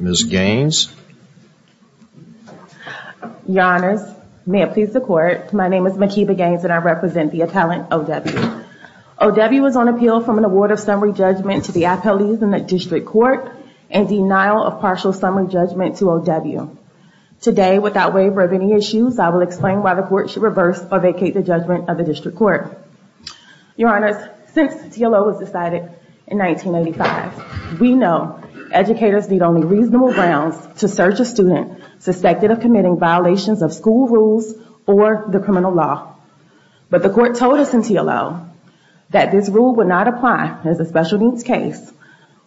Ms. Gaines? Your Honors, may it please the Court, my name is Makeba Gaines and I represent the appellant O.W. O.W. was on appeal from an award of summary judgment to the appellees in the District Court and denial of partial summary judgment to O.W. Today without waiver of any issues, I will explain why the Court should reverse or vacate the judgment of the District Court. Your Honors, since T.L.O. was decided in 1985, we know educators need only reasonable grounds to search a student suspected of committing violations of school rules or the criminal law. But the Court told us in T.L.O. that this rule would not apply as a special needs case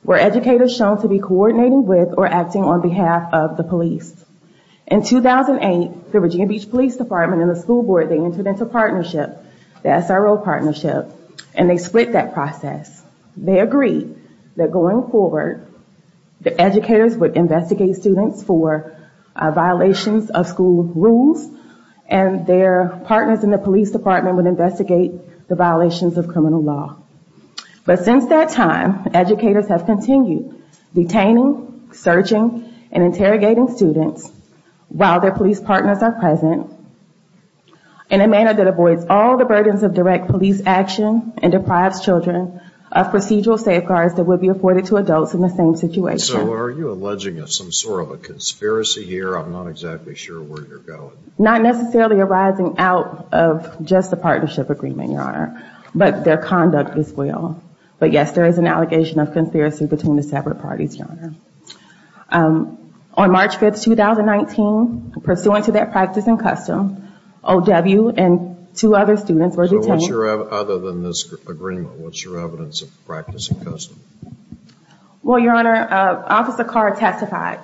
where educators shown to be coordinating with or acting on behalf of the police. In 2008, the Virginia Beach Police Department and the school board, they entered into a partnership, the SRO partnership, and they split that process. They agreed that going forward, the educators would investigate students for violations of school rules and their partners in the police department would investigate the violations of criminal law. But since that time, educators have continued detaining, searching, and interrogating students while their police partners are present in a manner that avoids all the burdens of direct police action and deprives children of procedural safeguards that would be afforded to adults in the same situation. So are you alleging some sort of a conspiracy here? I'm not exactly sure where you're going. Not necessarily arising out of just the partnership agreement, Your Honor, but their conduct as well. But yes, there is an allegation of conspiracy between the separate parties, Your Honor. On March 5th, 2019, pursuant to that practice and custom, O.W. and two other students were So what's your, other than this agreement, what's your evidence of practice and custom? Well, Your Honor, Officer Carr testified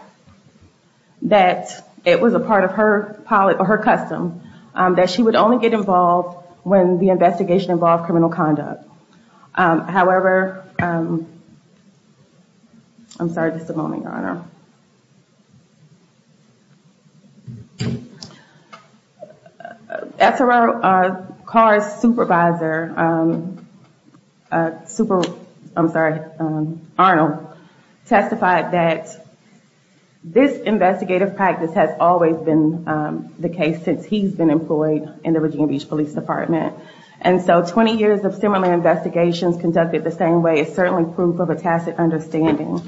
that it was a part of her custom that she would only get involved when the investigation involved criminal conduct. However, I'm sorry, just a moment, Your Honor, Officer Carr's supervisor, Arnold, testified that this investigative practice has always been the case since he's been employed in the Virginia Beach Police Department. And so 20 years of similar investigations conducted the same way is certainly proof of a tacit understanding.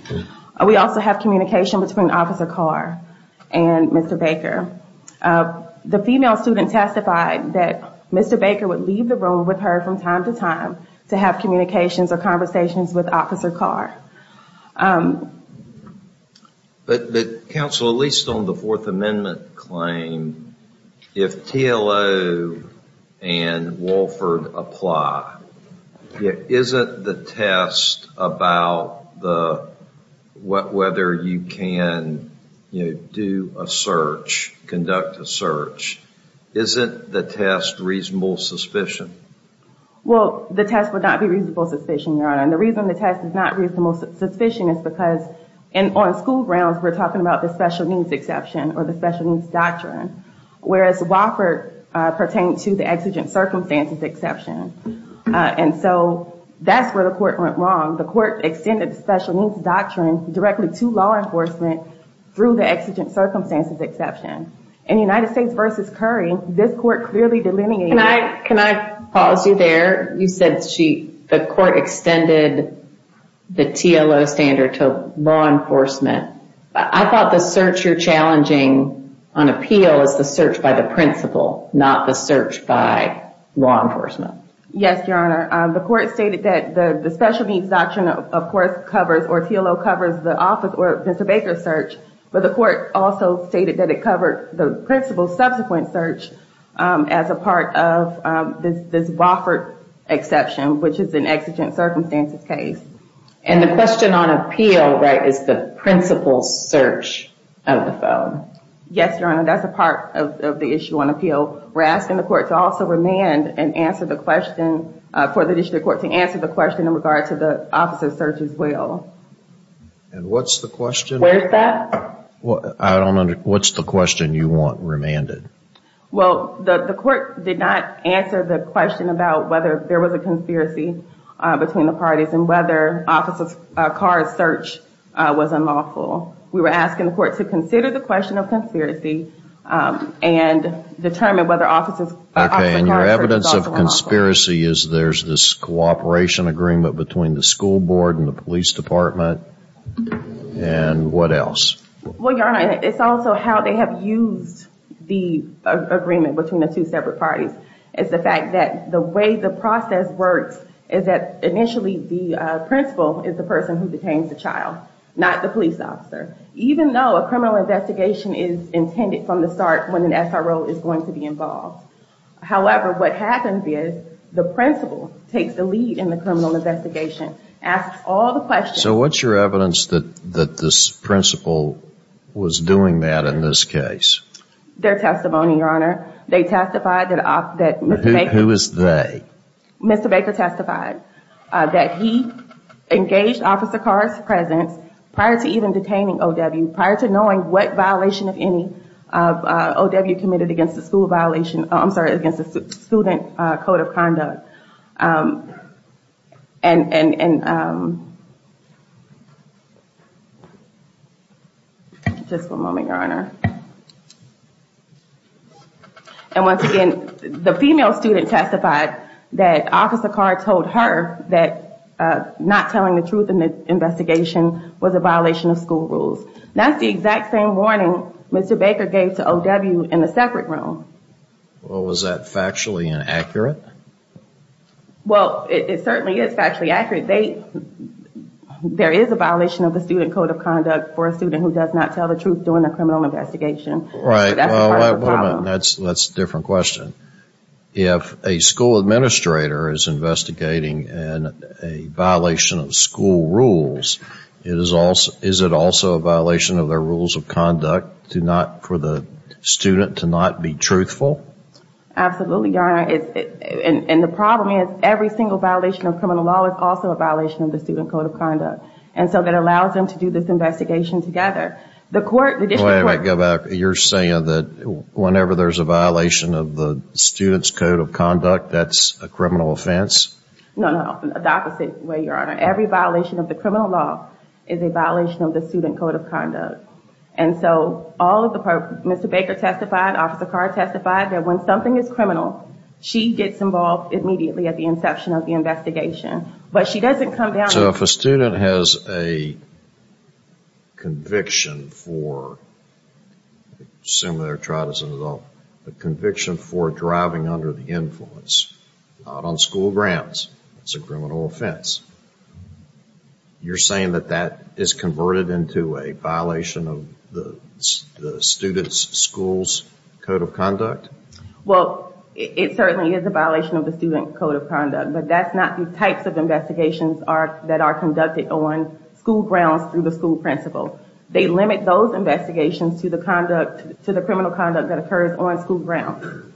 We also have communication between Officer Carr and Mr. Baker. The female student testified that Mr. Baker would leave the room with her from time to time to have communications or conversations with Officer Carr. But, Counsel, at least on the Fourth Amendment claim, if TLO and Wolford apply, isn't the test about whether you can do a search, conduct a search, isn't the test reasonable suspicion? Well, the test would not be reasonable suspicion, Your Honor. And the reason the test is not reasonable suspicion is because on school grounds, we're talking about the special needs exception or the special needs doctrine, whereas Wolford pertained to the exigent circumstances exception. And so that's where the court went wrong. The court extended the special needs doctrine directly to law enforcement through the exigent circumstances exception. In the United States v. Curry, this court clearly delineated... Can I pause you there? You said the court extended the TLO standard to law enforcement. I thought the search you're challenging on appeal is the search by the principal, not the search by law enforcement. Yes, Your Honor. The court stated that the special needs doctrine, of course, covers or TLO covers the officer or Mr. Baker's search, but the court also stated that it covered the principal's subsequent search as a part of this Wofford exception, which is an exigent circumstances case. And the question on appeal, right, is the principal's search of the phone. Yes, Your Honor. That's a part of the issue on appeal. We're asking the court to also remand and answer the question... For the district court to answer the question in regard to the officer's search as well. And what's the question? Where's that? I don't understand. What's the question you want remanded? Well, the court did not answer the question about whether there was a conspiracy between the parties and whether Officer Carr's search was unlawful. We were asking the court to consider the question of conspiracy and determine whether Officer Okay, and your evidence of conspiracy is there's this cooperation agreement between the school board and the police department. And what else? Well, Your Honor, it's also how they have used the agreement between the two separate parties. It's the fact that the way the process works is that initially the principal is the person who detains the child, not the police officer, even though a criminal investigation is intended from the start when an SRO is going to be involved. However, what happens is the principal takes the lead in the criminal investigation, asks all the questions... So what's your evidence that this principal was doing that in this case? Their testimony, Your Honor. They testified that... Who is they? Mr. Baker testified that he engaged Officer Carr's presence prior to even detaining OW, prior to knowing what violation, if any, of OW committed against the school violation... I'm sorry, against the student code of conduct. And just for a moment, Your Honor. And once again, the female student testified that Officer Carr told her that not telling the truth in the investigation was a violation of school rules. That's the exact same warning Mr. Baker gave to OW in the separate room. Well, was that factually inaccurate? Well, it certainly is factually accurate. There is a violation of the student code of conduct for a student who does not tell the truth during a criminal investigation. Right. That's part of the problem. Well, wait a minute. That's a different question. If a school administrator is investigating a violation of school rules, is it also a violation of their rules of conduct for the student to not be truthful? Absolutely, Your Honor. And the problem is every single violation of criminal law is also a violation of the student code of conduct. And so that allows them to do this investigation together. The court... Wait a minute. Go back. You're saying that whenever there's a violation of the student's code of conduct, that's a criminal offense? No, no. The opposite way, Your Honor. Every violation of the criminal law is a violation of the student code of conduct. And so all of the...Mr. Baker testified, Officer Carr testified that when something is criminal, she gets involved immediately at the inception of the investigation. But she doesn't come down... So if a student has a conviction for, I assume they're tried as an adult, a conviction for driving under the influence, not on school grounds, it's a criminal offense. You're saying that that is converted into a violation of the student's school's code of conduct? Well, it certainly is a violation of the student code of conduct, but that's not the types of investigations that are conducted on school grounds through the school principal. They limit those investigations to the criminal conduct that occurs on school grounds.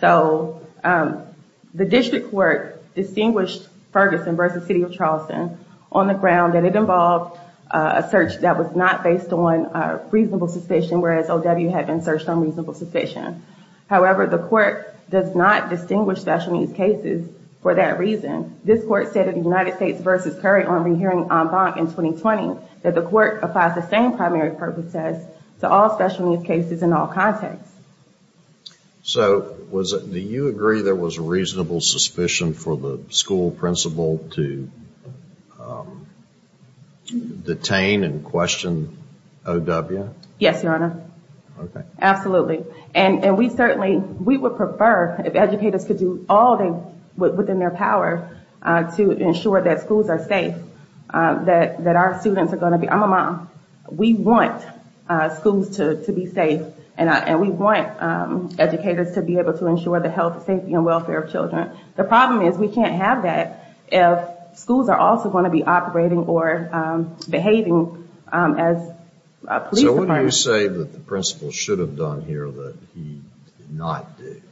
So the district court distinguished Ferguson versus City of Charleston on the ground that it involved a search that was not based on reasonable suspicion, whereas OW had been searched on reasonable suspicion. However, the court does not distinguish special needs cases for that reason. This court said in the United States versus Curry on re-hearing en banc in 2020, that the court applies the same primary purpose test to all special needs cases in all contexts. So was it... Do you agree there was a reasonable suspicion for the school principal to detain and question OW? Yes, Your Honor. Okay. Absolutely. And we certainly... We would prefer if educators could do all they... Within their power to ensure that schools are safe, that our students are going to be... I'm a mom. We want schools to be safe, and we want educators to be able to ensure the health, safety, and welfare of children. The problem is we can't have that if schools are also going to be operating or behaving as police departments. So what do you say that the principal should have done here that he did not do?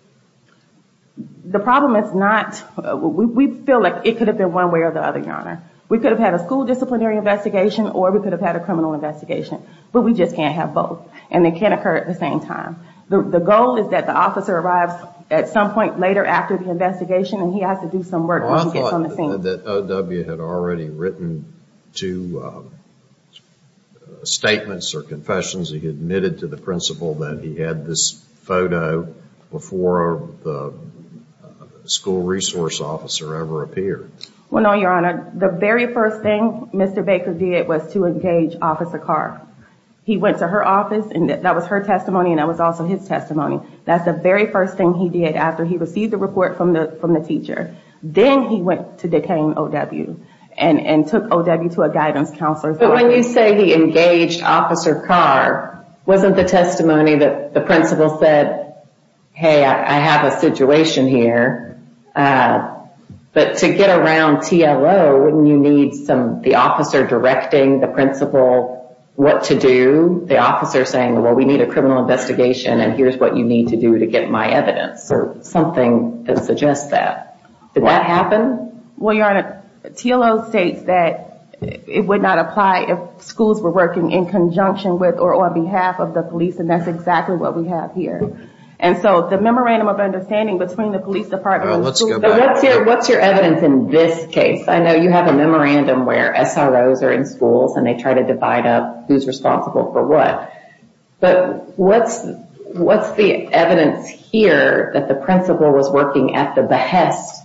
The problem is not... We feel like it could have been one way or the other, Your Honor. We could have had a school disciplinary investigation, or we could have had a criminal investigation, but we just can't have both, and they can't occur at the same time. The goal is that the officer arrives at some point later after the investigation, and he has to do some work when he gets on the scene. It sounded that O.W. had already written two statements or confessions. He admitted to the principal that he had this photo before the school resource officer ever appeared. Well, no, Your Honor. The very first thing Mr. Baker did was to engage Officer Carr. He went to her office, and that was her testimony, and that was also his testimony. That's the very first thing he did after he received the report from the teacher. Then he went to detain O.W. and took O.W. to a guidance counselor. But when you say he engaged Officer Carr, wasn't the testimony that the principal said, hey, I have a situation here, but to get around T.L.O., wouldn't you need the officer directing the principal what to do, the officer saying, well, we need a criminal investigation, and here's what you need to do to get my evidence, or something that suggests that? Did that happen? Well, Your Honor, T.L.O. states that it would not apply if schools were working in conjunction with or on behalf of the police, and that's exactly what we have here. And so the memorandum of understanding between the police department and the school... Let's go back. What's your evidence in this case? I know you have a memorandum where SROs are in schools, and they try to divide up who's responsible for what, but what's the evidence here that the principal was working at the behest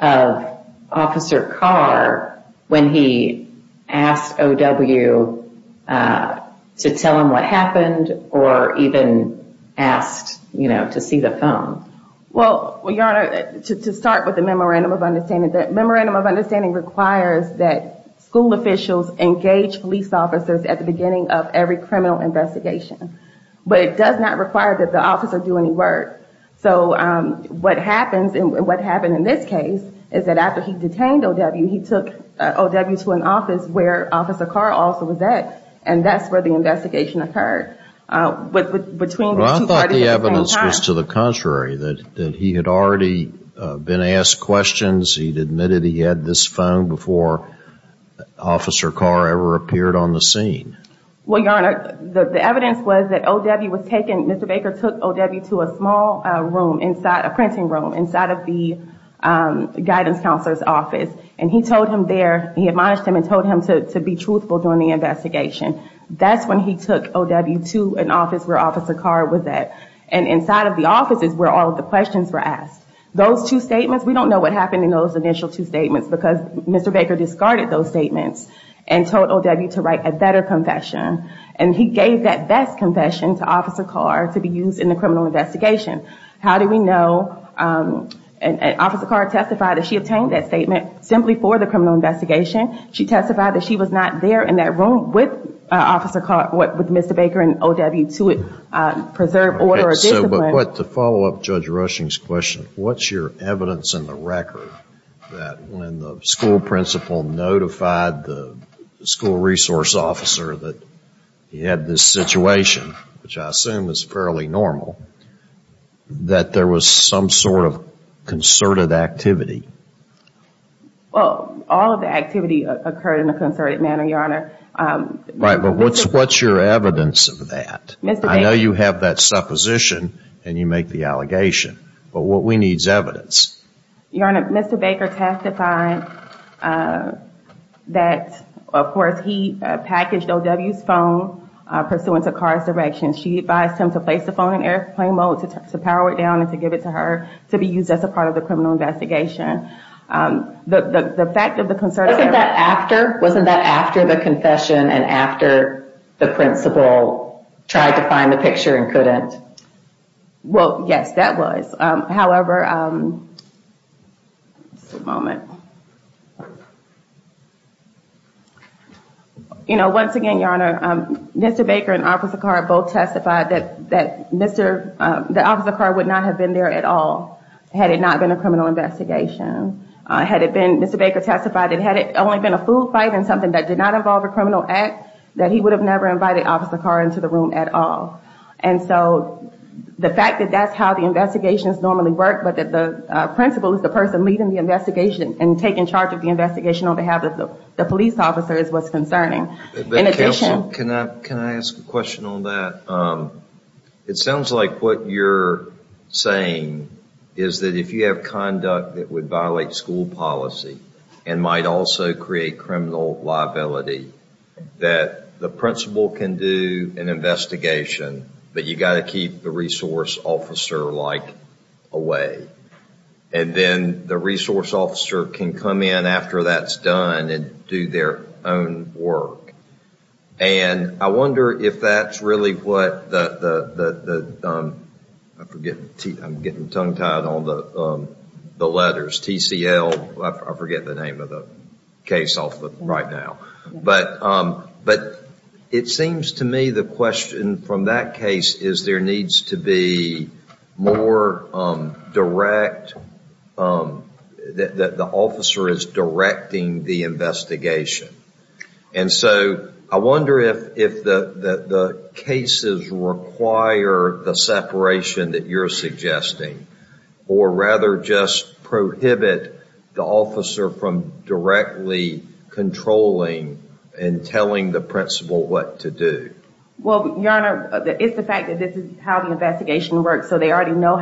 of Officer Carr when he asked O.W. to tell him what happened, or even asked to see the phone? Well, Your Honor, to start with the memorandum of understanding, that memorandum of understanding requires that school officials engage police officers at the beginning of every criminal investigation. But it does not require that the officer do any work. So what happened in this case is that after he detained O.W., he took O.W. to an office where Officer Carr also was at, and that's where the investigation occurred. Between the two parties at the same time... Well, I thought the evidence was to the contrary, that he had already been asked questions, he'd admitted he had this phone before Officer Carr ever appeared on the scene. Well, Your Honor, the evidence was that O.W. was taken... Mr. Baker took O.W. to a small room, a printing room, inside of the guidance counselor's office, and he told him there, he admonished him and told him to be truthful during the investigation. That's when he took O.W. to an office where Officer Carr was at. And inside of the office is where all of the questions were asked. Those two statements, we don't know what happened in those initial two statements because Mr. Baker discarded those statements and told O.W. to write a better confession. And he gave that best confession to Officer Carr to be used in the criminal investigation. How do we know? Officer Carr testified that she obtained that statement simply for the criminal investigation. She testified that she was not there in that room with Mr. Baker and O.W. to preserve order or discipline. But to follow up Judge Rushing's question, what's your evidence in the record that when the school principal notified the school resource officer that he had this situation, which I assume is fairly normal, that there was some sort of concerted activity? Well, all of the activity occurred in a concerted manner, Your Honor. Right, but what's your evidence of that? I know you have that supposition and you make the allegation, but what we need is evidence. Your Honor, Mr. Baker testified that, of course, he packaged O.W.'s phone pursuant to Carr's direction. She advised him to place the phone in airplane mode to power it down and to give it to her to be used as a part of the criminal investigation. The fact of the concerted... Wasn't that after? Wasn't that after the confession and after the principal tried to find the picture and Well, yes, that was. However... Just a moment. You know, once again, Your Honor, Mr. Baker and Officer Carr both testified that Mr.... that Officer Carr would not have been there at all had it not been a criminal investigation. Had it been... Mr. Baker testified that had it only been a food fight and something that did not involve a criminal act, that he would have never invited Officer Carr into the room at all. And so the fact that that's how the investigations normally work, but that the principal is the person leading the investigation and taking charge of the investigation on behalf of the police officers was concerning. In addition... Counsel, can I ask a question on that? It sounds like what you're saying is that if you have conduct that would violate school policy and might also create criminal liability, that the principal can do an investigation, but you've got to keep the resource officer, like, away. And then the resource officer can come in after that's done and do their own work. And I wonder if that's really what the... I'm getting tongue-tied on the letters, TCL, I forget the name of the case right now. But it seems to me the question from that case is there needs to be more direct... that the officer is directing the investigation. And so I wonder if the cases require the separation that you're suggesting, or rather just prohibit the officer from directly controlling and telling the principal what to do. Well, Your Honor, it's the fact that this is how the investigation works, so they already know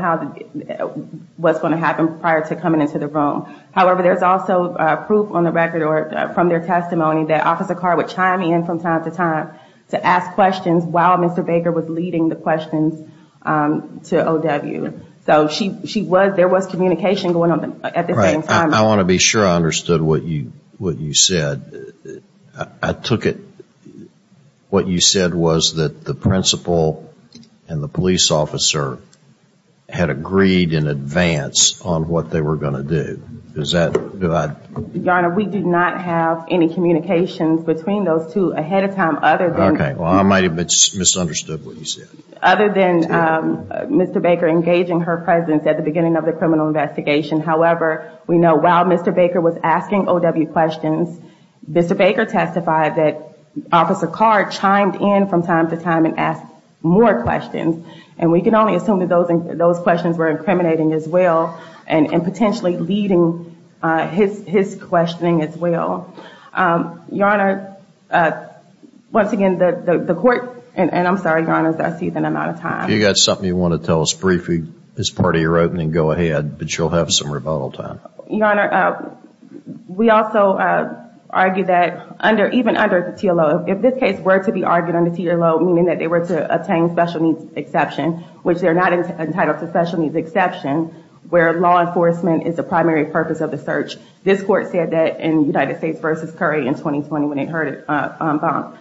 what's going to happen prior to coming into the room. However, there's also proof on the record or from their testimony that Officer Carr would chime in from time to time to ask questions while Mr. Baker was leading the questions to O.W. So she was... there was communication going on at the same time. I want to be sure I understood what you said. I took it... what you said was that the principal and the police officer had agreed in advance on what they were going to do. Is that... Your Honor, we did not have any communications between those two ahead of time other than... Okay. Well, I might have misunderstood what you said. Other than Mr. Baker engaging her presence at the beginning of the criminal investigation. However, we know while Mr. Baker was asking O.W. questions, Mr. Baker testified that Officer Carr chimed in from time to time and asked more questions. And we can only assume that those questions were incriminating as well and potentially leading his questioning as well. Your Honor, once again, the court... and I'm sorry, Your Honor, I see that I'm out of time. If you've got something you want to tell us briefly as part of your opening, go ahead, but you'll have some rebuttal time. Your Honor, we also argue that even under the TLO, if this case were to be argued under the TLO, meaning that they were to obtain special needs exception, which they're not entitled to special needs exception, where law enforcement is the primary purpose of the search. This court said that in United States versus Curry in 2020 when it heard it bump.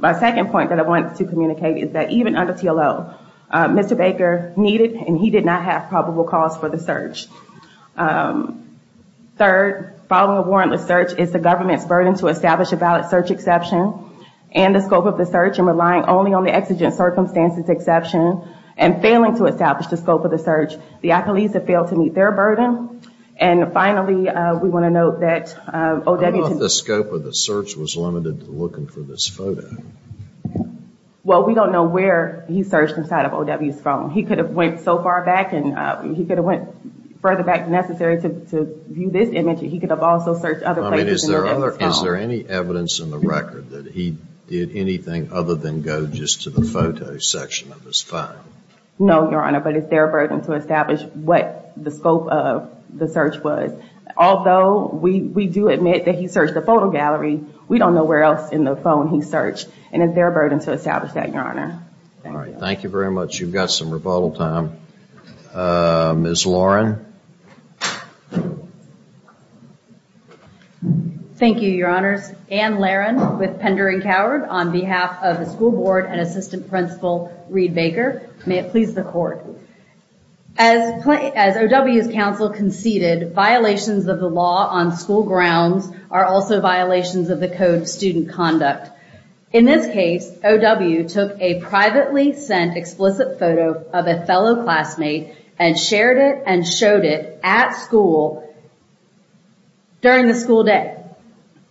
My second point that I wanted to communicate is that even under TLO, Mr. Baker needed and he did not have probable cause for the search. Third, following a warrantless search is the government's burden to establish a valid search exception and the scope of the search and relying only on the exigent circumstances exception and failing to establish the scope of the search, the accolades have failed to meet their burden. And finally, we want to note that O.W. I don't know if the scope of the search was limited to looking for this photo. Well, we don't know where he searched inside of O.W.'s phone. He could have went so far back and he could have went further back necessary to view this image. He could have also searched other places in O.W.'s phone. I mean, is there other, is there any evidence in the record that he did anything other than go just to the photo section of his phone? No, Your Honor, but it's their burden to establish what the scope of the search was. Although we do admit that he searched the photo gallery, we don't know where else in the phone he searched and it's their burden to establish that, Your Honor. All right. Thank you very much. You've got some rebuttal time. Ms. Lauren. Thank you, Your Honors. Anne Laron with Pender and Coward on behalf of the School Board and Assistant Principal Reed Baker. May it please the Court. As O.W.'s counsel conceded, violations of the law on school grounds are also violations of the Code of Student Conduct. In this case, O.W. took a privately sent explicit photo of a fellow classmate and shared it and showed it at school during the school day.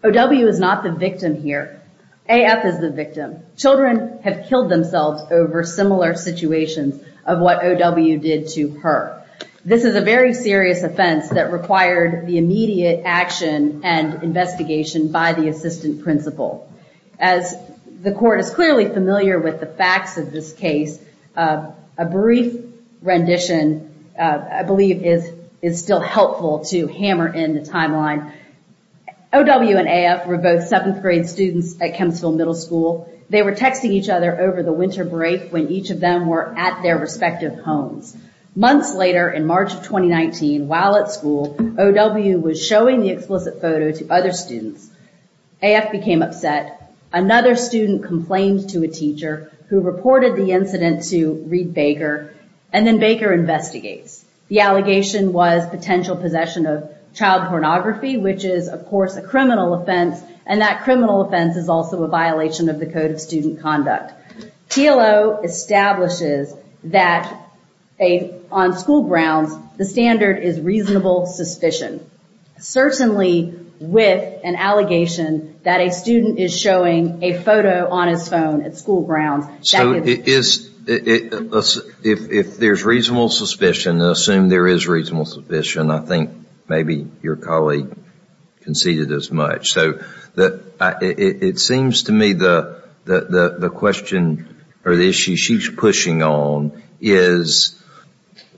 O.W. is not the victim here. A.F. is the victim. Children have killed themselves over similar situations of what O.W. did to her. This is a very serious offense that required the immediate action and investigation by the Assistant Principal. As the Court is clearly familiar with the facts of this case, a brief rendition, I believe, is still helpful to hammer in the timeline. O.W. and A.F. were both seventh grade students at Kempsville Middle School. They were texting each other over the winter break when each of them were at their respective homes. Months later, in March of 2019, while at school, O.W. was showing the explicit photo to other students. A.F. became upset. Another student complained to a teacher who reported the incident to Reed Baker, and then Baker investigates. The allegation was potential possession of child pornography, which is, of course, a criminal offense, and that criminal offense is also a violation of the Code of Student Conduct. T.L.O. establishes that on school grounds, the standard is reasonable suspicion, certainly with an allegation that a student is showing a photo on his phone at school grounds. So, if there's reasonable suspicion, assume there is reasonable suspicion, I think maybe your colleague conceded as much. It seems to me that the issue she's pushing on is,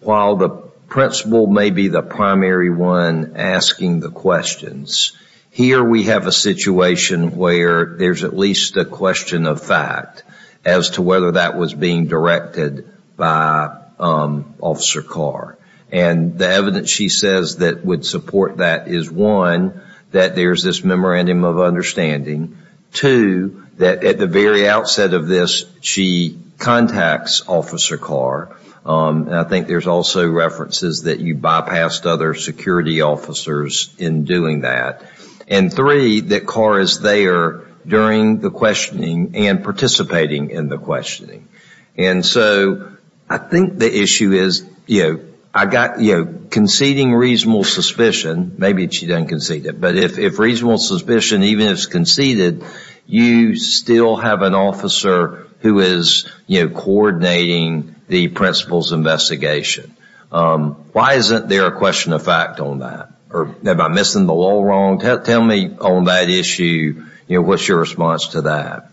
while the principal may be the primary one asking the questions, here we have a situation where there's at least a question of fact as to whether that was being directed by Officer Carr, and the evidence she says that would support that is, one, that there's this memorandum of understanding, two, that at the very outset of this, she contacts Officer Carr, and I think there's also references that you bypassed other security officers in doing that, and three, that Carr is there during the questioning and participating in the questioning. And so, I think the issue is, you know, I got, you know, conceding reasonable suspicion, maybe she didn't concede it, but if reasonable suspicion, even if it's conceded, you still have an officer who is, you know, coordinating the principal's investigation. Why isn't there a question of fact on that, or am I missing the whole wrong? Tell me on that issue, you know, what's your response to that?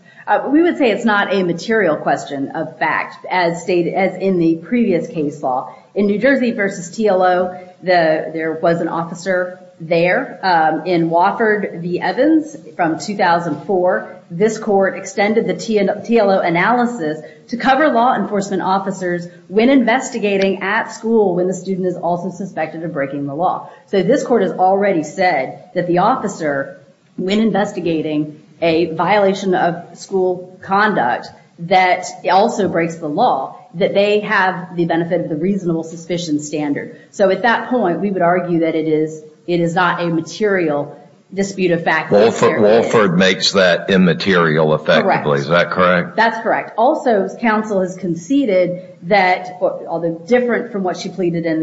We would say it's not a material question of fact, as in the previous case law. In New Jersey versus TLO, there was an officer there. In Wofford v. Evans from 2004, this court extended the TLO analysis to cover law enforcement officers when investigating at school when the student is also suspected of breaking the law. So this court has already said that the officer, when investigating a violation of school conduct that also breaks the law, that they have the benefit of the reasonable suspicion standard. So at that point, we would argue that it is not a material dispute of fact. Wofford makes that immaterial effectively, is that correct? That's correct. Also, counsel has conceded that, although different from what she pleaded in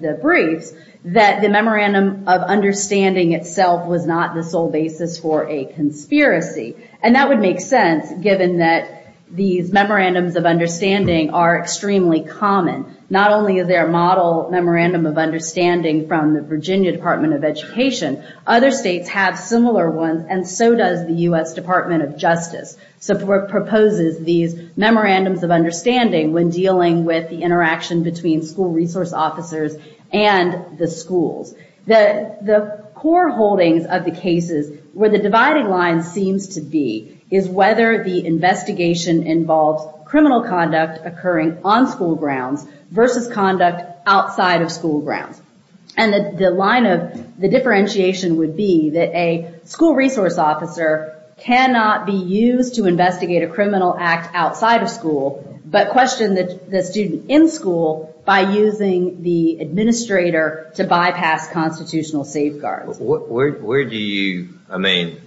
the briefs, that the memorandum of understanding itself was not the sole basis for a conspiracy. And that would make sense, given that these memorandums of understanding are extremely common. Not only is there a model memorandum of understanding from the Virginia Department of Education, other states have similar ones, and so does the U.S. Department of Justice. So it proposes these memorandums of understanding when dealing with the interaction between school resource officers and the schools. The core holdings of the cases, where the dividing line seems to be, is whether the investigation involves criminal conduct occurring on school grounds versus conduct outside of school grounds. And the line of the differentiation would be that a school resource officer cannot be used to investigate a criminal act outside of school, but question the student in school by using the administrator to bypass constitutional safeguards. Where do you, I mean,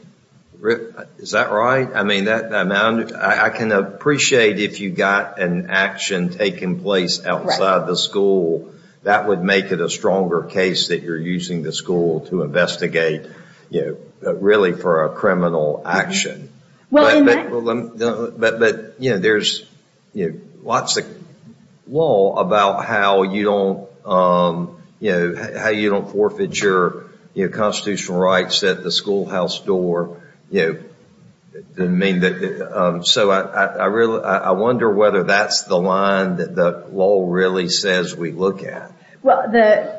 is that right? I mean, I can appreciate if you got an action taking place outside the school, that would make it a stronger case that you're using the school to investigate, you know, really for a criminal action. But, you know, there's lots of law about how you don't, you know, how you don't forfeit that your constitutional rights at the schoolhouse door, you know, didn't mean that, so I wonder whether that's the line that the law really says we look at. Well,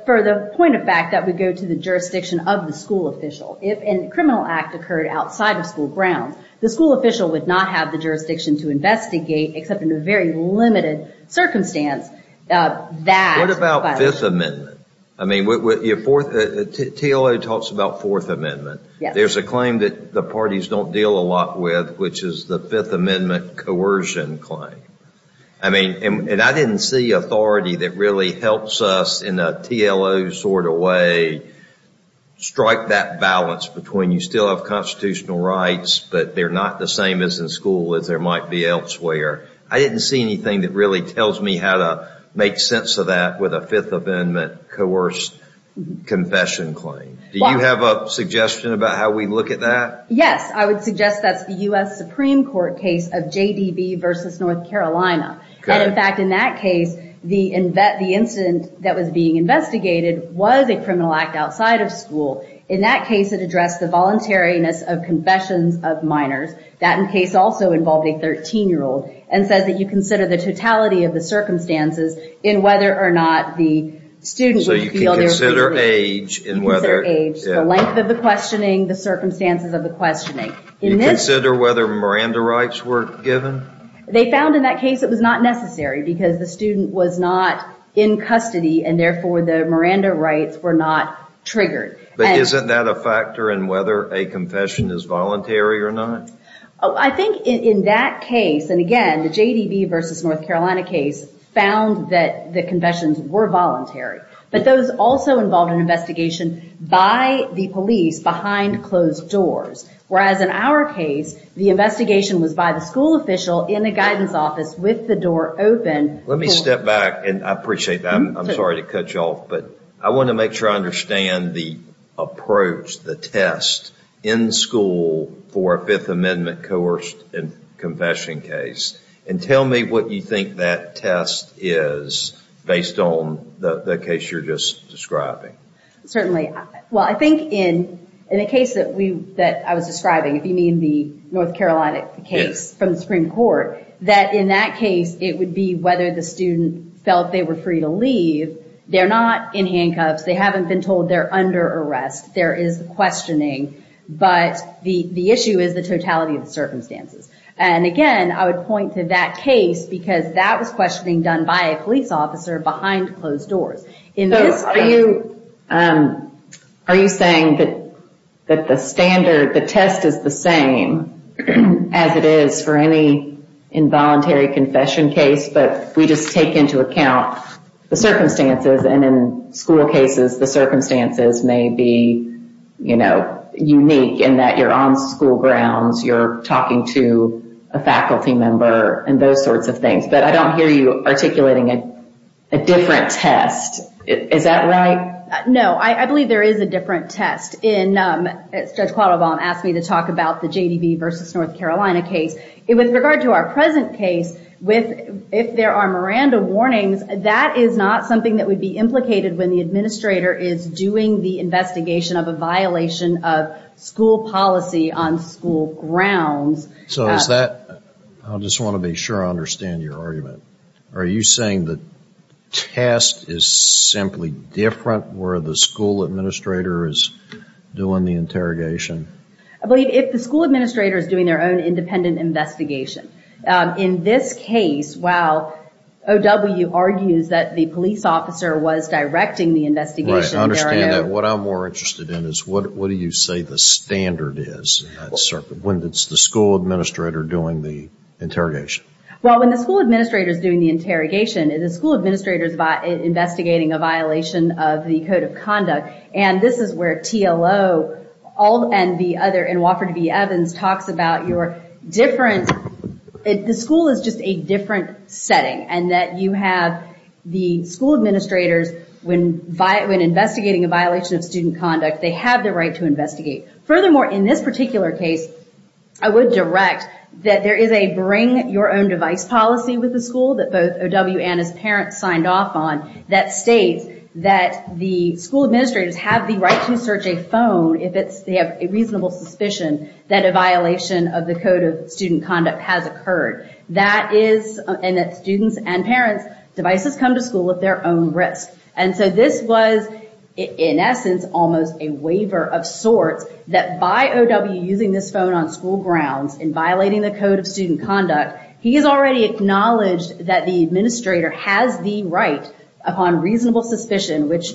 for the point of fact that we go to the jurisdiction of the school official, if a criminal act occurred outside of school grounds, the school official would not have the jurisdiction to investigate, except in a very limited circumstance, that violation. What about Fifth Amendment? I mean, TLO talks about Fourth Amendment. There's a claim that the parties don't deal a lot with, which is the Fifth Amendment coercion claim. I mean, and I didn't see authority that really helps us in a TLO sort of way strike that balance between you still have constitutional rights, but they're not the same as in school as there might be elsewhere. I didn't see anything that really tells me how to make sense of that with a Fifth Amendment coerced confession claim. Do you have a suggestion about how we look at that? Yes, I would suggest that's the U.S. Supreme Court case of JDB versus North Carolina. And in fact, in that case, the incident that was being investigated was a criminal act outside of school. In that case, it addressed the voluntariness of confessions of minors. That case also involved a 13-year-old and says that you consider the totality of the circumstances in whether or not the student would feel they were being... So you can consider age in whether... You can consider age, the length of the questioning, the circumstances of the questioning. You consider whether Miranda rights were given? They found in that case it was not necessary because the student was not in custody and therefore the Miranda rights were not triggered. But isn't that a factor in whether a confession is voluntary or not? I think in that case, and again, the JDB versus North Carolina case found that the confessions were voluntary. But those also involved an investigation by the police behind closed doors. Whereas in our case, the investigation was by the school official in the guidance office with the door open. Let me step back and I appreciate that. I'm sorry to cut you off, but I want to make sure I understand the approach, the test in school for a Fifth Amendment coerced confession case. And tell me what you think that test is based on the case you're just describing. Certainly. Well, I think in a case that I was describing, if you mean the North Carolina case from the Supreme Court, that in that case, it would be whether the student felt they were free to leave. They're not in handcuffs. They haven't been told they're under arrest. There is the questioning, but the issue is the totality of the circumstances. And again, I would point to that case because that was questioning done by a police officer behind closed doors. So are you saying that the standard, the test is the same as it is for any involuntary confession case, but we just take into account the circumstances and in school cases, the circumstances may be unique in that you're on school grounds, you're talking to a faculty member and those sorts of things. But I don't hear you articulating a different test. Is that right? No. I believe there is a different test. Judge Qualdobaum asked me to talk about the JDV versus North Carolina case. With regard to our present case, if there are Miranda warnings, that is not something that would be implicated when the administrator is doing the investigation of a violation of school policy on school grounds. So is that, I just want to be sure I understand your argument. Are you saying the test is simply different where the school administrator is doing the interrogation? I believe if the school administrator is doing their own independent investigation. In this case, while OW argues that the police officer was directing the investigation. Right. I understand that. What I'm more interested in is what do you say the standard is when it's the school administrator doing the interrogation? Well, when the school administrator is doing the interrogation, the school administrator is investigating a violation of the code of conduct. And this is where TLO and the other, and Wofford v. Evans talks about your different, the school is just a different setting and that you have the school administrators when investigating a violation of student conduct, they have the right to investigate. Furthermore, in this particular case, I would direct that there is a bring your own device policy with the school that both OW and his parents signed off on that states that the school administrators have the right to search a phone if it's, they have a reasonable suspicion that a violation of the code of student conduct has occurred. That is, and that students and parents devices come to school at their own risk. And so this was in essence, almost a waiver of sorts that by OW using this phone on school grounds, in violating the code of student conduct, he has already acknowledged that the administrator has the right upon reasonable suspicion, which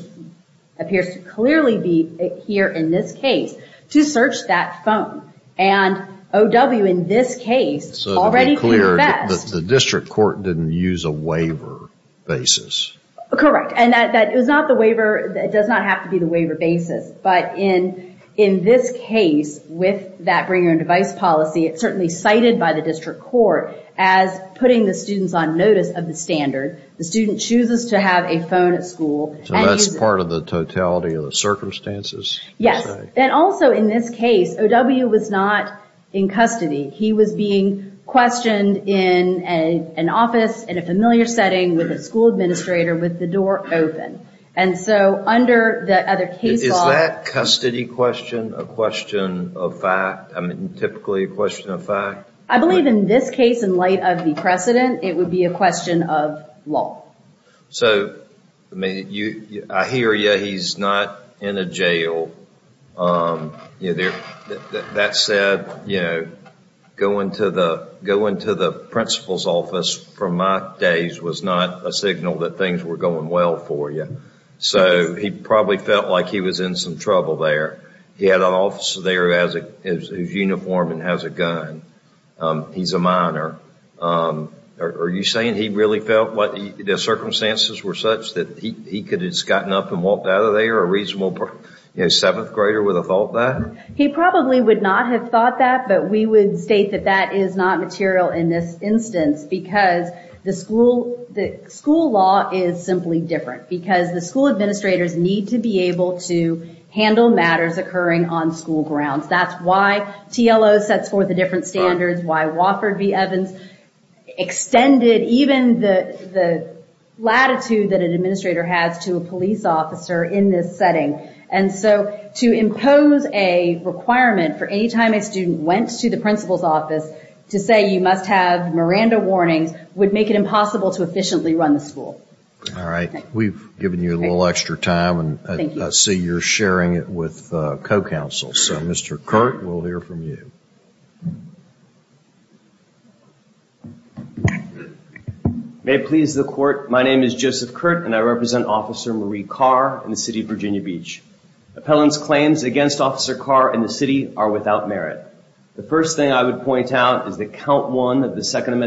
appears to clearly be here in this case, to search that phone. And OW, in this case, already can invest. So to be clear, the district court didn't use a waiver basis. Correct. And that it was not the waiver, it does not have to be the waiver basis. But in this case, with that bring your own device policy, it's certainly cited by the district court as putting the students on notice of the standard. The student chooses to have a phone at school. So that's part of the totality of the circumstances? Yes. And also in this case, OW was not in custody. He was being questioned in an office, in a familiar setting with a school administrator with the door open. And so under the other case law... Is that custody question a question of fact? I mean, typically a question of fact? I believe in this case, in light of the precedent, it would be a question of law. So I hear you, he's not in a jail. That said, going to the principal's office from my days was not a signal that things were going well for you. So he probably felt like he was in some trouble there. He had an officer there who has a uniform and has a gun. He's a minor. Are you saying he really felt the circumstances were such that he could have just gotten up and walked out of there, a reasonable seventh grader would have thought that? He probably would not have thought that, but we would state that that is not material in this instance because the school law is simply different, because the school administrators need to be able to handle matters occurring on school grounds. That's why TLO sets forth the different standards, why Wofford v. Evans extended even the latitude that an administrator has to a police officer in this setting. And so to impose a requirement for any time a student went to the principal's office to say you must have Miranda warnings would make it impossible to efficiently run the school. All right. We've given you a little extra time and I see you're sharing it with co-counsel. So Mr. Kurt, we'll hear from you. May it please the court, my name is Joseph Kurt and I represent Officer Marie Carr in the city of Virginia Beach. Appellant's claims against Officer Carr and the city are without merit. The first thing I would point out is that count one of the second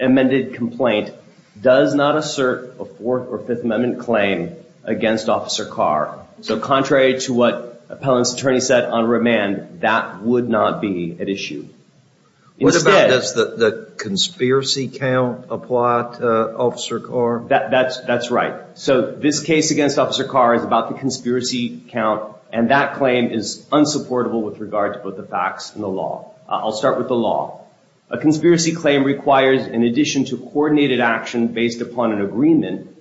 amended complaint does not assert a fourth or fifth amendment claim against Officer Carr. So contrary to what appellant's attorney said on remand, that would not be at issue. What about the conspiracy count applied to Officer Carr? That's right. So this case against Officer Carr is about the conspiracy count and that claim is unsupportable with regard to both the facts and the law. I'll start with the law. A conspiracy claim requires in addition to coordinated action based upon an agreement,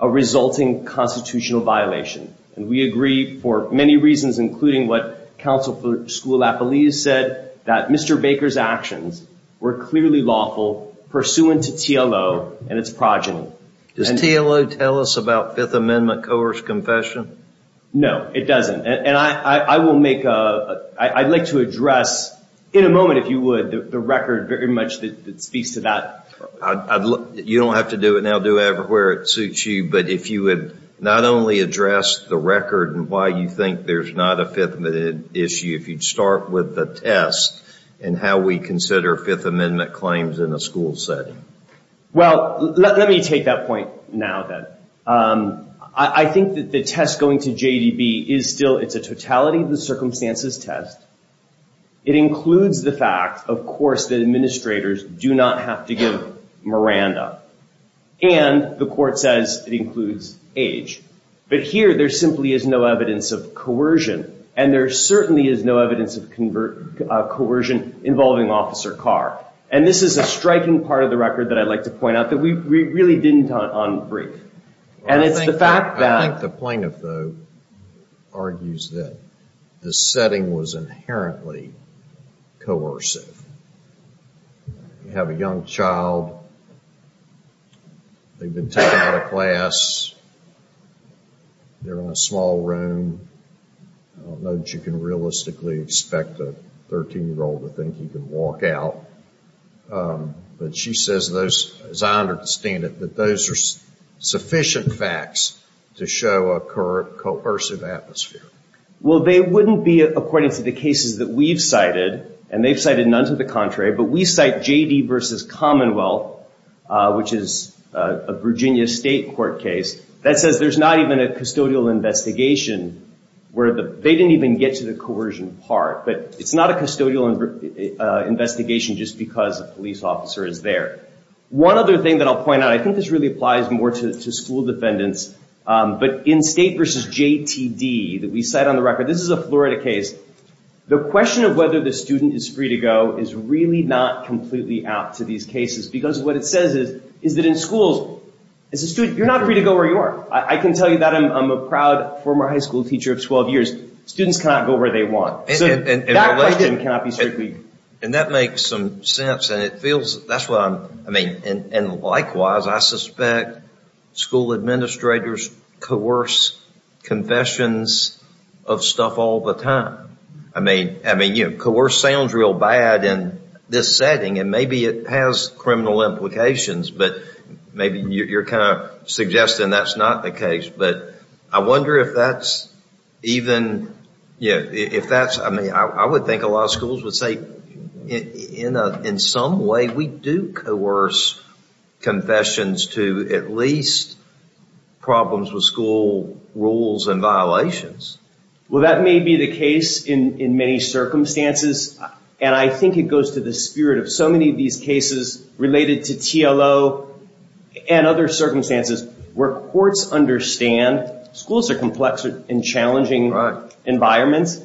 a resulting constitutional violation. And we agree for many reasons, including what counsel for school appellees said, that Mr. Baker's actions were clearly lawful pursuant to TLO and its progeny. Does TLO tell us about fifth amendment coerced confession? No, it doesn't. And I will make a, I'd like to address in a moment, if you would, the record very much that speaks to that. You don't have to do it now. Do it wherever it suits you. But if you would not only address the record and why you think there's not a fifth amendment issue, if you'd start with the test and how we consider fifth amendment claims in a school setting. Well, let me take that point now then. I think that the test going to JDB is still, it's a totality of the circumstances test. It includes the fact, of course, that administrators do not have to give Miranda. And the court says it includes age. But here there simply is no evidence of coercion. And there certainly is no evidence of coercion involving Officer Carr. And this is a striking part of the record that I'd like to point out that we really didn't on brief. And it's the fact that... I think the plaintiff, though, argues that the setting was inherently coercive. You have a young child, they've been taken out of class, they're in a small room, I don't know that you can realistically expect a 13-year-old to think he can walk out. But she says those, as I understand it, that those are sufficient facts to show a coercive atmosphere. Well, they wouldn't be according to the cases that we've cited. And they've cited none to the contrary. But we cite JD versus Commonwealth, which is a Virginia state court case. That says there's not even a custodial investigation where they didn't even get to the coercion part. But it's not a custodial investigation just because a police officer is there. One other thing that I'll point out, I think this really applies more to school defendants, but in state versus JTD that we cite on the record, this is a Florida case. The question of whether the student is free to go is really not completely out to these cases because what it says is that in schools, as a student, you're not free to go where you are. I can tell you that. I'm a proud former high school teacher of 12 years. Students cannot go where they want. That question cannot be strictly... And that makes some sense. And likewise, I suspect school administrators coerce confessions of stuff all the time. Coerce sounds real bad in this setting, and maybe it has criminal implications, but maybe you're kind of suggesting that's not the case. I wonder if that's even... I would think a lot of schools would say, in some way, we do coerce confessions to at least problems with school rules and violations. Well, that may be the case in many circumstances, and I think it goes to the spirit of so many of these cases related to TLO and other circumstances where courts understand schools are complex and challenging environments,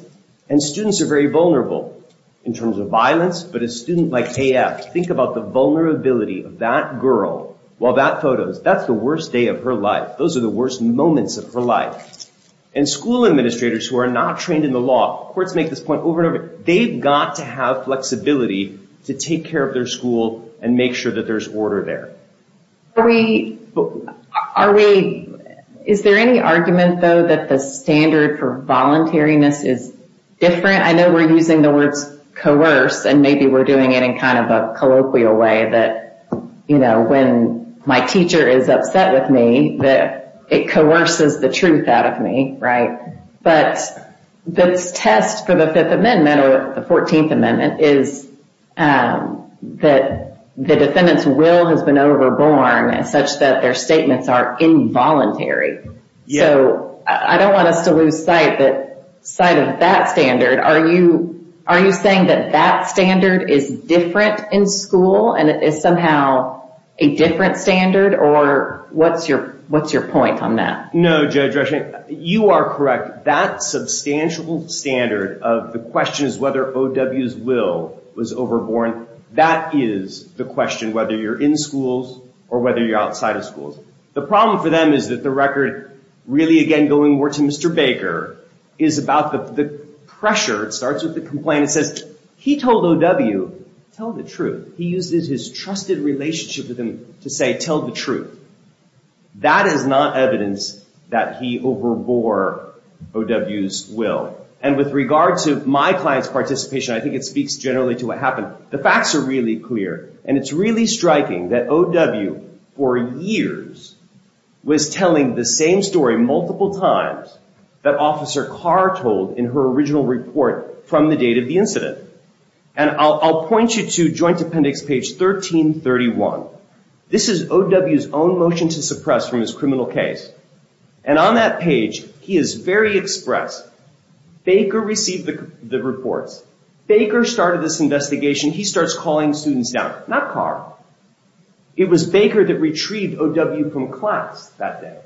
and students are very vulnerable in terms of violence. But a student like AF, think about the vulnerability of that girl while that photo is... That's the worst day of her life. Those are the worst moments of her life. And school administrators who are not trained in the law, courts make this point over and over, they've got to have flexibility to take care of their school and make sure that there's order there. Is there any argument, though, that the standard for voluntariness is different? I know we're using the words coerce, and maybe we're doing it in kind of a colloquial way that when my teacher is upset with me, that it coerces the truth out of me, right? But this test for the Fifth Amendment or the Fourteenth Amendment is that the defendant's will has been overborn as such that their statements are involuntary. So, I don't want us to lose sight of that standard. Are you saying that that standard is different in school, and it is somehow a different standard? Or what's your point on that? No, Judge Rushing, you are correct. That substantial standard of the question is whether O.W.'s will was overborn, that is the question, whether you're in schools or whether you're outside of schools. The problem for them is that the record really, again, going more to Mr. Baker, is about the pressure. It starts with the complaint. It says, he told O.W., tell the truth. He uses his trusted relationship with him to say, tell the truth. That is not evidence that he overbore O.W.'s will. And with regard to my client's participation, I think it speaks generally to what happened. The facts are really clear, and it's really striking that O.W. for years was telling the same story multiple times that Officer Carr told in her original report from the date of the incident. And I'll point you to Joint Appendix page 1331. This is O.W.'s own motion to suppress from his criminal case. And on that page, he is very express. Baker received the reports. Baker started this investigation. He starts calling students down. Not Carr. It was Baker that retrieved O.W. from class that day.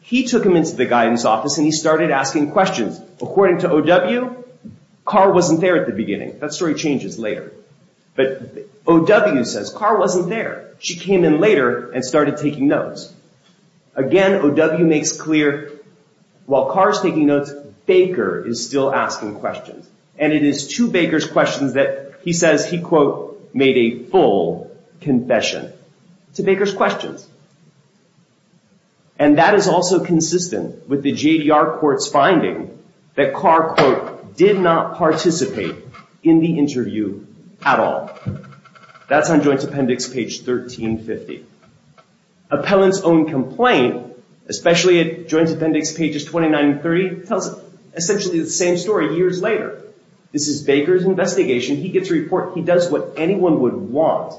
He took him into the guidance office, and he started asking questions. According to O.W., Carr wasn't there at the beginning. That story changes later. But O.W. says Carr wasn't there. She came in later and started taking notes. Again, O.W. makes clear while Carr's taking notes, Baker is still asking questions. And it is to Baker's questions that he says he, quote, made a full confession to Baker's questions. And that is also consistent with the JDR court's finding that Carr, quote, did not participate in the interview at all. That's on Joint Appendix page 1350. Appellant's own complaint, especially at Joint Appendix pages 29 and 30, tells essentially the same story years later. This is Baker's investigation. He gets a report. He does what anyone would want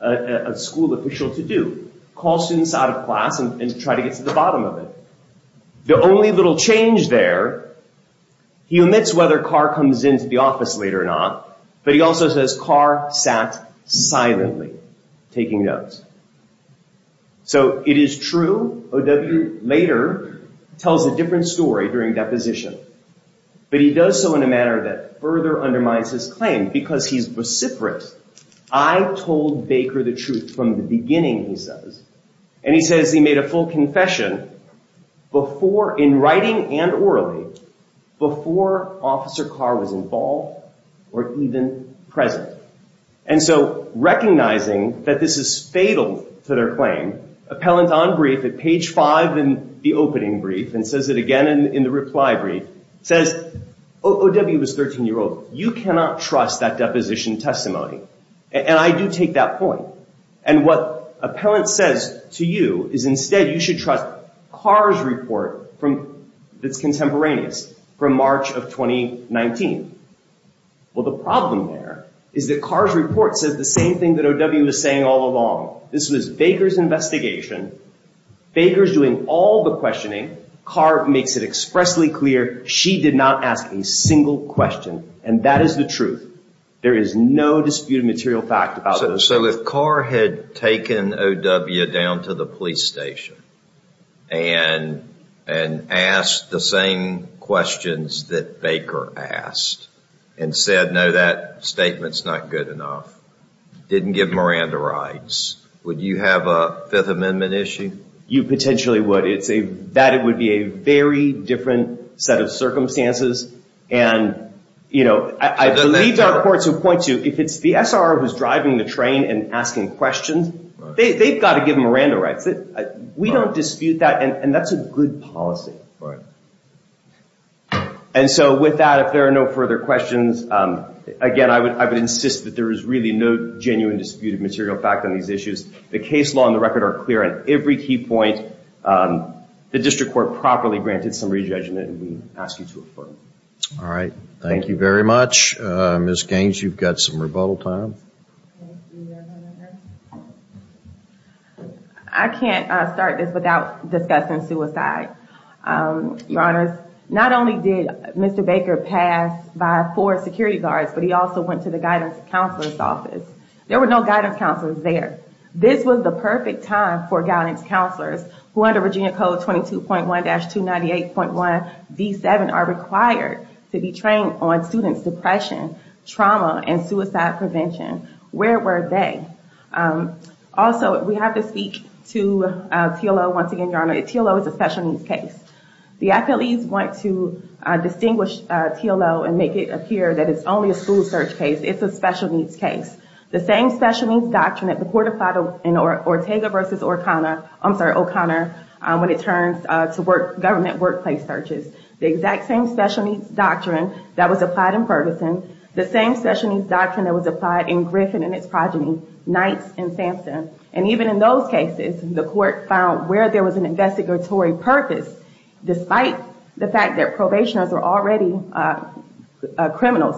a school official to do, call students out of class and try to get to the bottom of it. The only little change there, he omits whether Carr comes into the office later or not. But he also says Carr sat silently taking notes. So it is true O.W. later tells a different story during deposition. But he does so in a manner that further undermines his claim. Because he's vociferous. I told Baker the truth from the beginning, he says. And he says he made a full confession in writing and orally before Officer Carr was involved or even present. And so recognizing that this is fatal to their claim, appellant on brief at page 5 in the opening brief, and says it again in the reply brief, says O.W. was a 13-year-old. You cannot trust that deposition testimony. And I do take that point. And what appellant says to you is instead you should trust Carr's report that's contemporaneous from March of 2019. Well, the problem there is that Carr's report says the same thing that O.W. was saying all along. This was Baker's investigation. Baker's doing all the questioning. Carr makes it expressly clear she did not ask a single question. And that is the truth. There is no disputed material fact about this. So if Carr had taken O.W. down to the police station and asked the same questions that Baker asked and said, no, that statement's not good enough, didn't give Miranda rights, would you have a Fifth Amendment issue? You potentially would. That would be a very different set of circumstances. And I believe there are courts who point to, if it's the SRO who's driving the train and asking questions, they've got to give Miranda rights. We don't dispute that, and that's a good policy. And so with that, if there are no further questions, again, I would insist that there is really no genuine disputed material fact on these issues. The case law and the record are clear on every key point. The district court properly granted some re-judgment, and we ask you to affirm it. All right. Thank you very much. Ms. Gaines, you've got some rebuttal time. I can't start this without discussing suicide, Your Honors. Not only did Mr. Baker pass by four security guards, but he also went to the guidance counselor's office. There were no guidance counselors there. This was the perfect time for guidance counselors, who under Virginia Code 22.1-298.1b7, are required to be trained on students' depression, trauma, and suicide prevention. Where were they? Also, we have to speak to TLO once again, Your Honor. TLO is a special needs case. The affilies want to distinguish TLO and make it appear that it's only a school search case. It's a special needs case. The same special needs doctrine that the court applied in Ortega versus O'Connor, I'm sorry, O'Connor, when it turns to government workplace searches. The exact same special needs doctrine that was applied in Ferguson, the same special needs doctrine that was applied in Griffin and its progeny, Knights and Sampson. And even in those cases, the court found where there was an investigatory purpose, despite the fact that probationers were already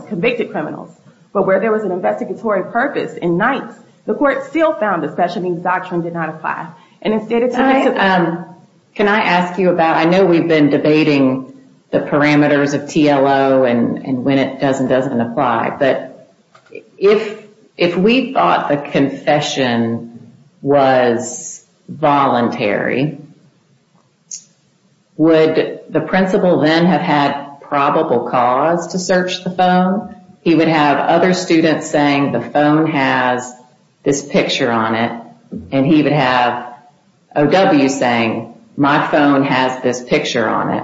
convicted criminals. But where there was an investigatory purpose in Knights, the court still found the special needs doctrine did not apply. And instead of- Can I ask you about, I know we've been debating the parameters of TLO and when it does and doesn't apply, but if we thought the confession was voluntary, would the principal then have had probable cause to search the phone? He would have other students saying the phone has this picture on it. And he would have O.W. saying my phone has this picture on it.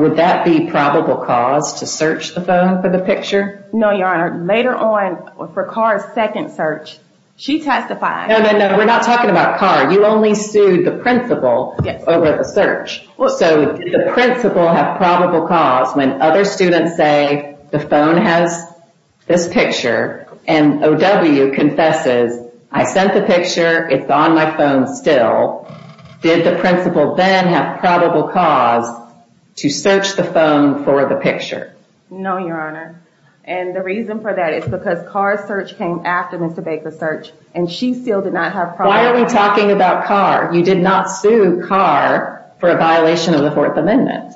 Would that be probable cause to search the phone for the picture? No, Your Honor, later on for Carr's second search, she testified- No, no, no, we're not talking about Carr. You only sued the principal over the search. So did the principal have probable cause when other students say the phone has this picture and O.W. confesses, I sent the picture, it's on my phone still. Did the principal then have probable cause to search the phone for the picture? No, Your Honor. And the reason for that is because Carr's search came after Mr. Baker's search and she still did not have probable cause. Why are we talking about Carr? You did not sue Carr for a violation of the Fourth Amendment.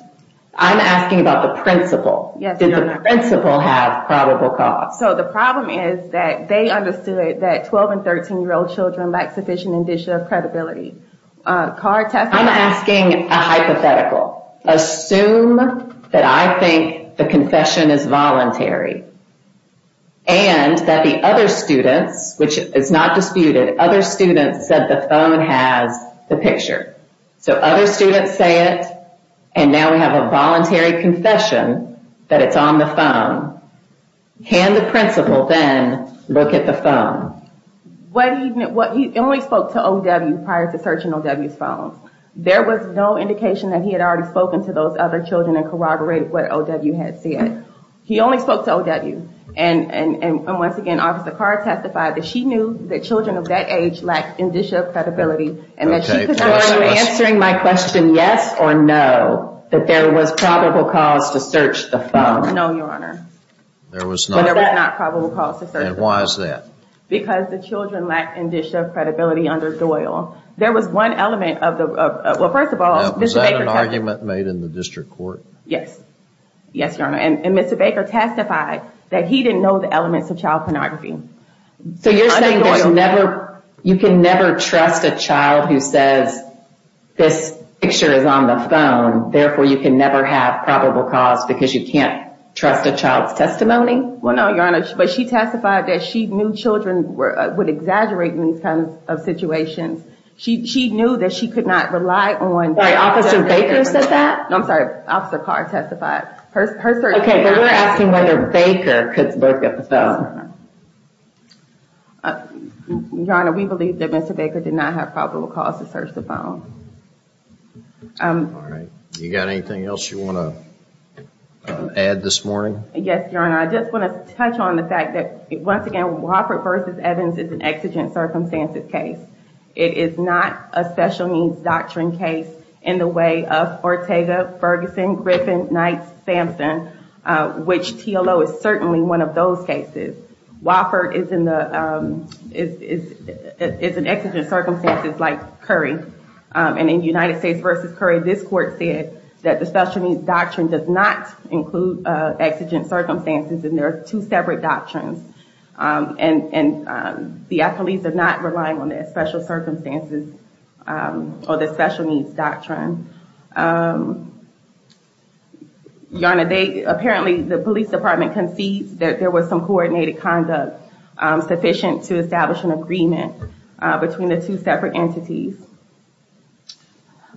I'm asking about the principal. Yes, Your Honor. Did the principal have probable cause? So the problem is that they understood that 12 and 13-year-old children lack sufficient individual credibility. Carr testified- I'm asking a hypothetical. Assume that I think the confession is voluntary and that the other students, which is not disputed, that other students said the phone has the picture. So other students say it, and now we have a voluntary confession that it's on the phone. Can the principal then look at the phone? He only spoke to O.W. prior to searching O.W.'s phone. There was no indication that he had already spoken to those other children and corroborated what O.W. had said. He only spoke to O.W., and once again, Officer Carr testified that she knew that children of that age lacked indicia of credibility and that she could not know- Answering my question, yes or no, that there was probable cause to search the phone? No, Your Honor. There was not. But there was not probable cause to search the phone. And why is that? Because the children lacked indicia of credibility under Doyle. There was one element of the- well, first of all, Mr. Baker testified- Now, was that an argument made in the district court? Yes. Yes, Your Honor, and Mr. Baker testified that he didn't know the elements of child You can never trust a child who says, this picture is on the phone, therefore you can never have probable cause because you can't trust a child's testimony? Well, no, Your Honor, but she testified that she knew children would exaggerate in these kinds of situations. She knew that she could not rely on- Wait, Officer Baker said that? No, I'm sorry. Officer Carr testified. Okay, but we're asking whether Baker could both get the phone. Your Honor, we believe that Mr. Baker did not have probable cause to search the phone. All right. You got anything else you want to add this morning? Yes, Your Honor. I just want to touch on the fact that, once again, Wofford v. Evans is an exigent circumstances case. It is not a special needs doctrine case in the way of Ortega, Ferguson, Griffin, Knights, Samson, which TLO is certainly one of those cases. Wofford is an exigent circumstances like Curry. In United States v. Curry, this court said that the special needs doctrine does not include exigent circumstances and there are two separate doctrines. The affiliates are not relying on their special circumstances or their special needs doctrine. Your Honor, apparently, the police department concedes that there was some coordinated conduct sufficient to establish an agreement between the two separate entities.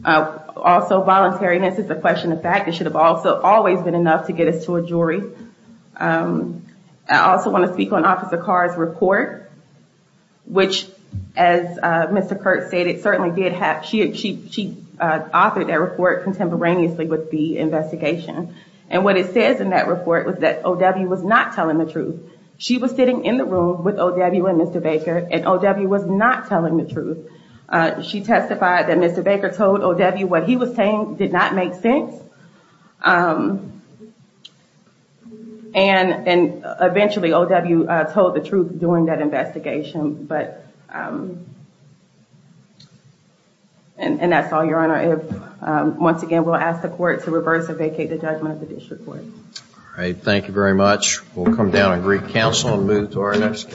Also, voluntariness is a question of fact. It should have also always been enough to get us to a jury. I also want to speak on Officer Carr's report, which, as Mr. Kurtz stated, she authored that report contemporaneously with the investigation. What it says in that report was that O.W. was not telling the truth. She was sitting in the room with O.W. and Mr. Baker and O.W. was not telling the truth. She testified that Mr. Baker told O.W. what he was saying did not make sense. Eventually, O.W. told the truth during that investigation. That's all, Your Honor. Once again, we'll ask the court to reverse and vacate the judgment of the district court. Thank you very much. We'll come down and recounsel and move to our next case.